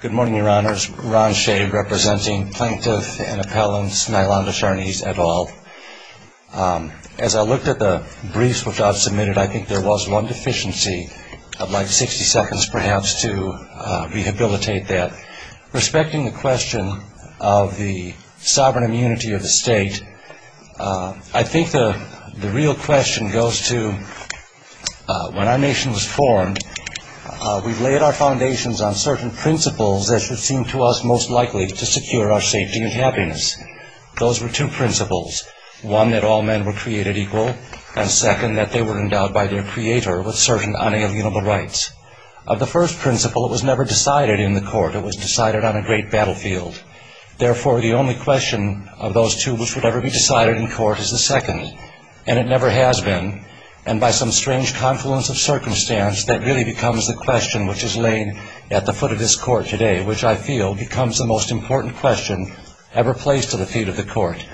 Good morning, Your Honors. Ron Shea, representing Plaintiff and Appellants, Nylonda Sharnese et al. As I looked at the briefs which I've submitted, I think there was one deficiency of like 60 seconds, perhaps, to rehabilitate that. Respecting the question of the sovereign immunity of the state, I think the real question goes to when our nation was formed, we laid our foundations on certain principles that should seem to us most likely to secure our safety and happiness. Those were two principles, one that all men were created equal, and second that they were endowed by their creator with certain unalienable rights. Of the first principle, it was never decided in the court, it was decided on a great battlefield. Therefore, the only question of those two which would ever be decided in court is the second, and it never has been, and by some strange confluence of circumstance, that really becomes the question which is laying at the foot of this court today, which I feel becomes the most important question ever placed to the feet of the court.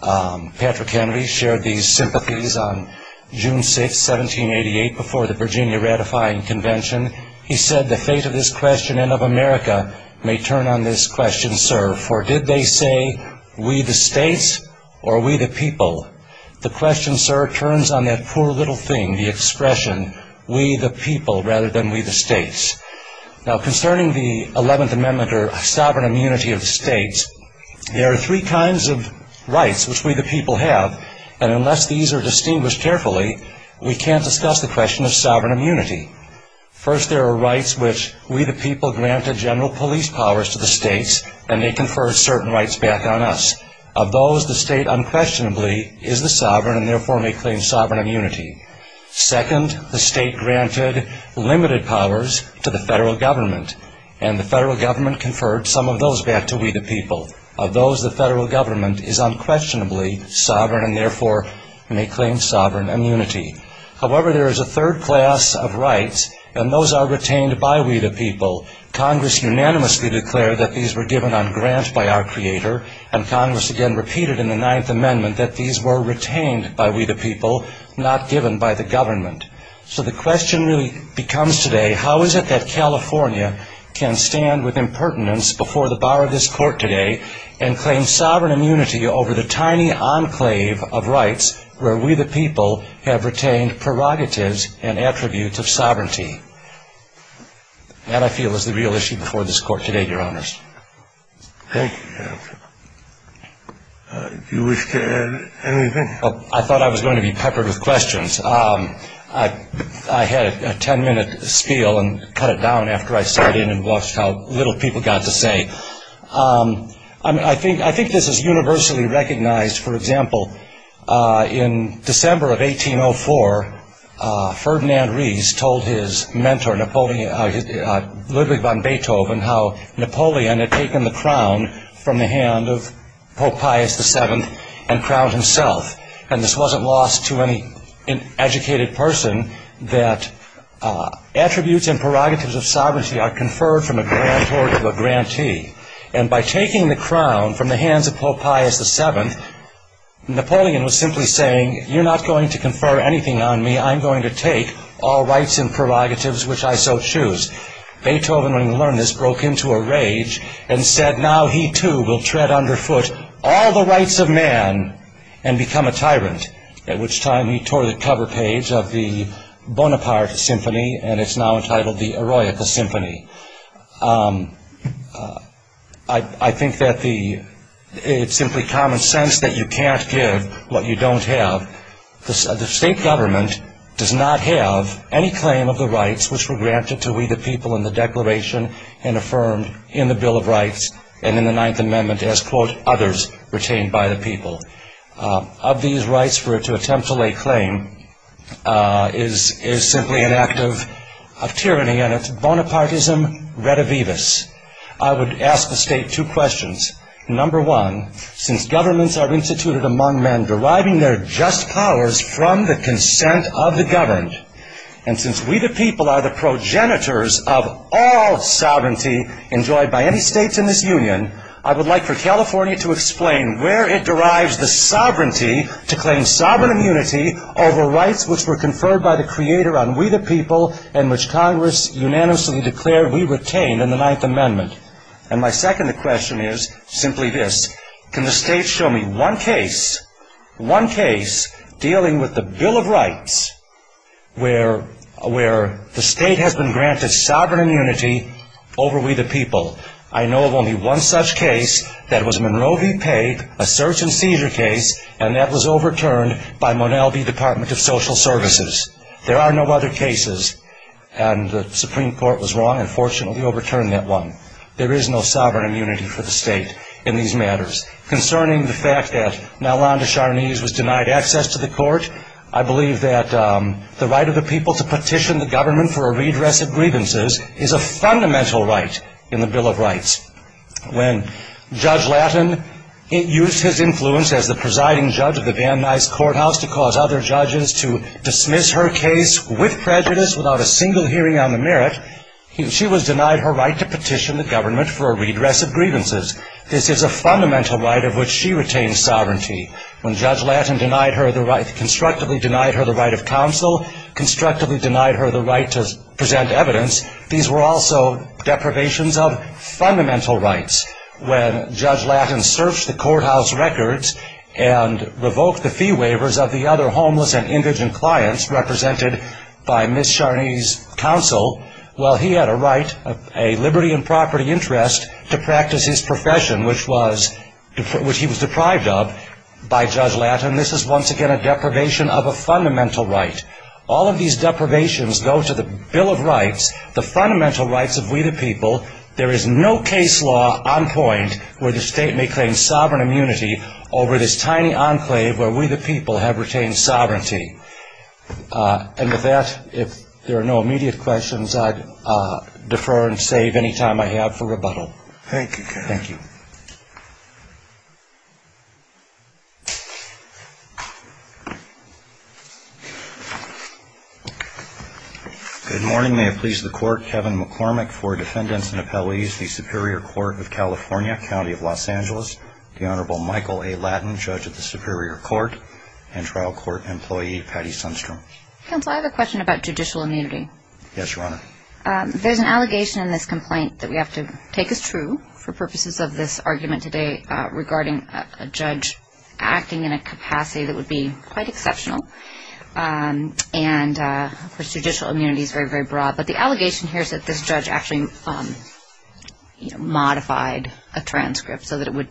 Patrick Kennedy shared these sympathies on June 6, 1788, before the Virginia Ratifying Convention. He said, the fate of this question and of America may turn on this question, sir, for did they say, we the states, or we the people? The question, sir, turns on that poor little thing, the expression, we the people, rather than we the states. Now, concerning the 11th Amendment, or sovereign immunity of the states, there are three kinds of rights which we the people have, and unless these are distinguished carefully, we can't discuss the question of sovereign immunity. First, there are rights which we the people granted general police powers to the states, and they confer certain rights back on us. Of those, the state unquestionably is the sovereign, and therefore may claim sovereign immunity. Second, the state granted limited powers to the federal government, and the federal government conferred some of those back to we the people. Of those, the federal government is unquestionably sovereign, and therefore may claim sovereign immunity. However, there is a third class of rights, and those are retained by we the people. Congress unanimously declared that these were given on grant by our Creator, and Congress again repeated in the 9th Amendment that these were retained by we the people, not given by the government. So the question really becomes today, how is it that California can stand with impertinence before the bar of this court today, and claim sovereign immunity over the tiny enclave of rights where we the people have retained prerogatives and attributes of sovereignty? That, I feel, is the real issue before this court today, Your Honors. Thank you, Jeff. Do you wish to add anything? I thought I was going to be peppered with questions. I had a ten-minute spiel and cut it down after I sat in and watched how little people got to say. I think this is universally recognized. For example, in December of 1804, Ferdinand Ries told his mentor, Ludwig van Napoleon, had taken the crown from the hand of Pope Pius VII and crowned himself. And this wasn't lost to any educated person, that attributes and prerogatives of sovereignty are conferred from a grantor to a grantee. And by taking the crown from the hands of Pope Pius VII, Napoleon was simply saying, you're not going to confer anything on me. I'm going to take all rights and prerogatives which I so choose. Beethoven, when he learned this, broke into a rage and said, now he, too, will tread underfoot all the rights of man and become a tyrant, at which time he tore the cover page of the Bonaparte Symphony, and it's now entitled the Eroica Symphony. I think that it's simply common sense that you can't give what you don't have. The state government does not have any claim of the and affirmed in the Bill of Rights and in the Ninth Amendment as, quote, others retained by the people. Of these rights for it to attempt to lay claim is simply an act of tyranny and it's Bonapartism redivivus. I would ask the state two questions. Number one, since governments are instituted among men deriving their just powers from the consent of the governed, and enjoyed by any states in this union, I would like for California to explain where it derives the sovereignty to claim sovereign immunity over rights which were conferred by the Creator on we the people and which Congress unanimously declared we retained in the Ninth Amendment. And my second question is simply this. Can the state show me one case, one case dealing with the Bill of Rights where the state has been granted sovereign immunity over we the people? I know of only one such case that was Monroe v. Pape, a search and seizure case, and that was overturned by Monell v. Department of Social Services. There are no other cases and the Supreme Court was wrong and fortunately overturned that one. There is no sovereign immunity for the state in these matters. Concerning the fact that Nalanda Sharnese was denied access to the court, I believe that the right of the people to petition the government for a redress of grievances is a fundamental right in the Bill of Rights. When Judge Lattin used his influence as the presiding judge of the Van Nuys Courthouse to cause other judges to dismiss her case with prejudice without a single hearing on the merit, she was denied her right to petition the government for a redress of grievances. This is a fundamental right of which she retained sovereignty. When Judge Lattin constructively denied her the right of counsel, constructively denied her the right to present evidence, these were also deprivations of fundamental rights. When Judge Lattin searched the courthouse records and revoked the fee waivers of the other homeless and indigent clients represented by Ms. Sharnese's counsel, well, he had a right, a liberty and property interest, to practice his profession which was, which he was deprived of by Judge Lattin. This is once again a deprivation of a fundamental right. All of these deprivations go to the Bill of Rights, the fundamental rights of we the people. There is no case law on point where the state may claim sovereign immunity over this tiny enclave where we the people have retained sovereignty. And with that, if there are no immediate questions, I defer and save any time I have for rebuttal. Thank you, Kevin. Thank you. Good morning. May it please the Court, Kevin McCormick for Defendants and Appellees, the Superior Court of California, County of Los Angeles. The Honorable Michael A. Lattin, Judge of the Superior Court and Trial Court Employee, Patty Sundstrom. Counsel, I have a question about judicial immunity. Yes, Your Honor. There is an allegation in this complaint that we have to take as true for purposes of this argument today regarding a judge acting in a capacity that would be quite exceptional. And, of course, judicial immunity is very, very broad. But the allegation here is that this judge actually modified a transcript so that it would,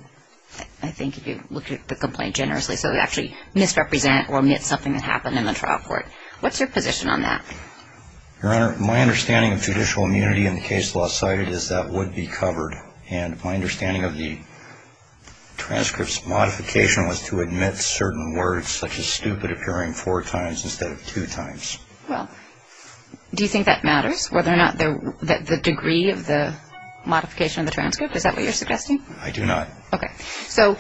I think if you look at the complaint generously, so it would actually misrepresent or omit something that happened in the trial court. What's your position on that? Your Honor, my understanding of judicial immunity in the case law cited is that would be covered. And my understanding of the transcripts modification was to omit certain words such as stupid appearing four times instead of two times. Well, do you think that matters, whether or not the degree of the modification of the transcript? Is that what you're suggesting? I do not. Okay. So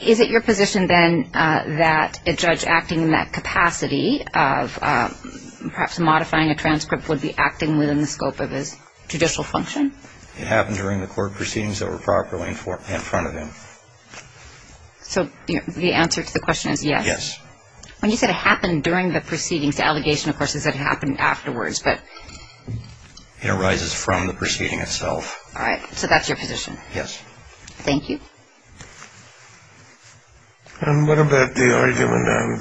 is it your position, then, that a judge acting in that capacity of perhaps modifying a transcript would be acting within the scope of his judicial function? It happened during the court proceedings that were properly in front of him. So the answer to the question is yes? Yes. When you said it happened during the proceedings, the allegation, of course, is that it happened afterwards, but... It arises from the proceeding itself. All right. So that's your position? Yes. Thank you. And what about the argument on self-immunity,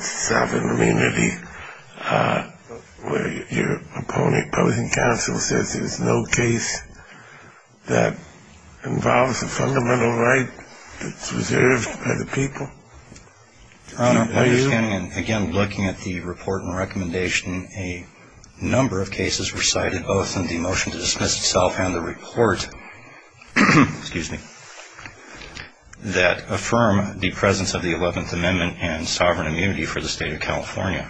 where your opposing counsel says there's no case that involves a fundamental right that's reserved by the people? Your Honor, my understanding, again, looking at the report and recommendation, a number of cases were cited, both in the motion to dismiss itself and the report. Excuse me. That affirm the presence of the 11th Amendment and sovereign immunity for the State of California.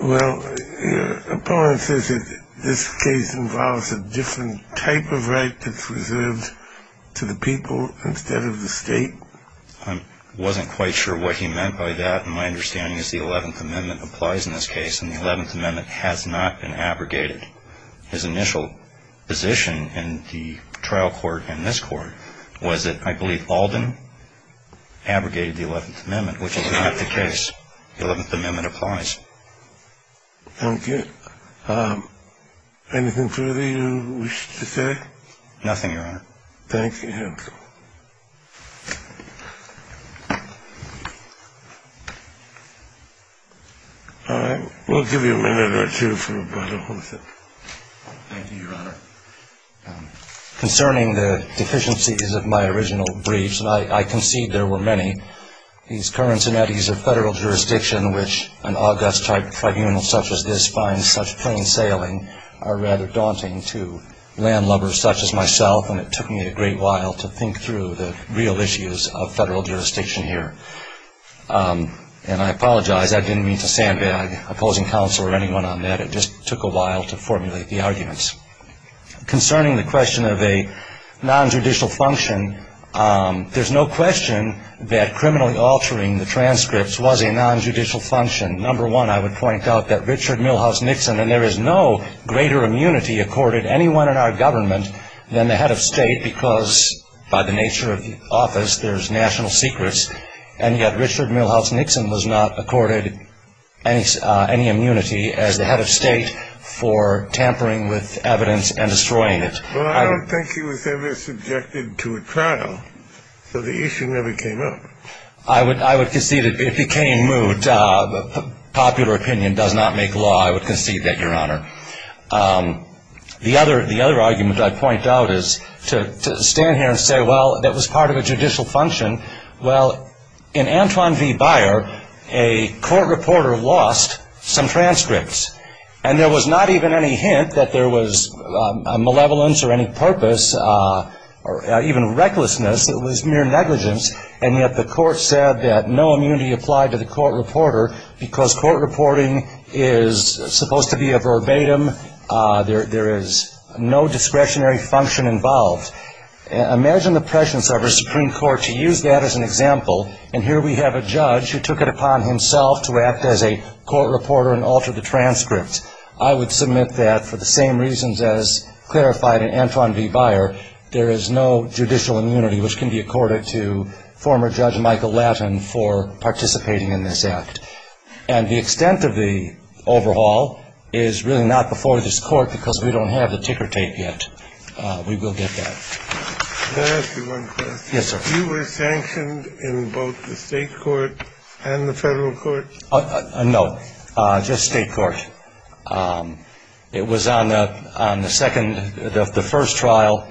Well, your opponent says that this case involves a different type of right that's reserved to the people instead of the State. I wasn't quite sure what he meant by that, and my understanding is the 11th Amendment applies in this case, and the 11th Amendment has not been abrogated. His initial position in the trial court in this court was that, I believe, Alden abrogated the 11th Amendment, which is not the case. The 11th Amendment applies. Thank you. Anything further you wish to say? Nothing, your Honor. Thank you. All right. We'll give you a minute or two for a brief. Thank you, your Honor. Concerning the deficiencies of my original briefs, and I concede there were many, these currents and eddies of federal jurisdiction which an august tribunal such as this finds such plain sailing are rather daunting to landlubbers such as myself, and it took me a great while to think through the real issues of federal jurisdiction here. And I apologize, I didn't mean to sandbag opposing counsel or anyone on that. It just took a while to formulate the arguments. Concerning the question of a non-judicial function, there's no question that criminally altering the transcripts was a non-judicial function. Number one, I would point out that Richard Milhous Nixon, and there is no greater immunity accorded anyone in our government than the head of state because by the nature of the office there's national secrets, and yet Richard Milhous Nixon was not accorded any immunity as the head of state for tampering with evidence and destroying it. Well, I don't think he was ever subjected to a trial, so the issue never came up. I would concede it became moot. That popular opinion does not make law, I would concede that, Your Honor. The other argument I'd point out is to stand here and say, well, that was part of a judicial function. Well, in Antwon v. Byer, a court reporter lost some transcripts, and there was not even any hint that there was malevolence or any purpose or even recklessness. It was mere negligence, and yet the court said that no immunity applied to the court reporter because court reporting is supposed to be a verbatim. There is no discretionary function involved. Imagine the prescience of a Supreme Court to use that as an example, and here we have a judge who took it upon himself to act as a court reporter and alter the transcript. I would submit that for the same reasons as clarified in Antwon v. Byer, there is no judicial immunity which can be accorded to former Judge Michael Lattin for participating in this act. And the extent of the overhaul is really not before this court because we don't have the ticker tape yet. We will get that. Can I ask you one question? Yes, sir. You were sanctioned in both the state court and the federal court? No, just state court. It was on the second of the first trial,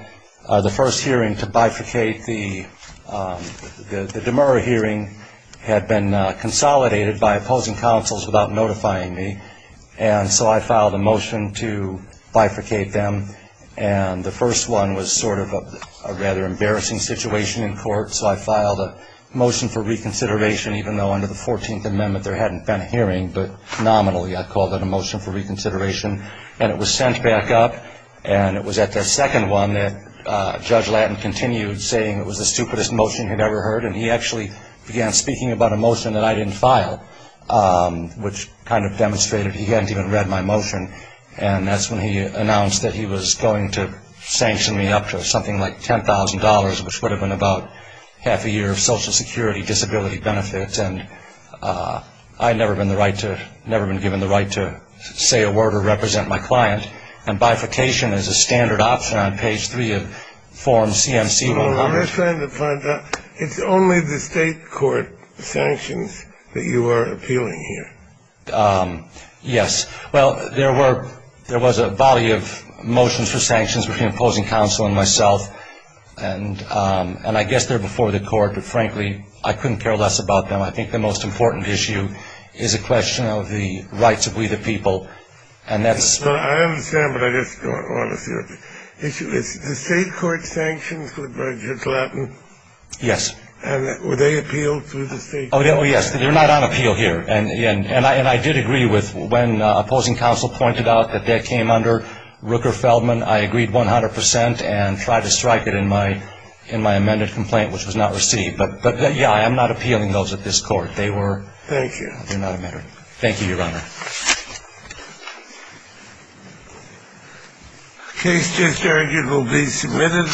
the first hearing to bifurcate the Demurra hearing had been consolidated by opposing counsels without notifying me, and so I filed a motion to bifurcate them, and the first one was sort of a rather embarrassing situation in court, so I filed a motion for reconsideration, even though under the 14th Amendment there hadn't been a hearing, but nominally I called it a motion for reconsideration, and it was sent back up, and it was at the second one that Judge Lattin continued saying it was the stupidest motion he'd ever heard, and he actually began speaking about a motion that I didn't file, which kind of demonstrated he hadn't even read my motion, and that's when he announced that he was going to sanction me up to something like $10,000, which would have been about half a year of Social Security disability benefits, and I had never been given the right to say a word or represent my client, and bifurcation is a standard option on page 3 of form CMC-100. Well, let me try to find out. It's only the state court sanctions that you are appealing here? Yes. Well, there was a volley of motions for sanctions between opposing counsel and myself, and I guess they're before the court, but frankly I couldn't care less about them. I think the most important issue is a question of the rights of we the people, and that's... I understand, but I just want to see what the issue is. The state court sanctions for Judge Lattin. Yes. Were they appealed through the state court? Oh, yes, they're not on appeal here, and I did agree with when opposing counsel pointed out that that came under Rooker-Feldman. I agreed 100% and tried to strike it in my amended complaint, which was not received, but, yeah, I'm not appealing those at this court. Thank you. They're not amended. Thank you, Your Honor. The case just heard will be submitted.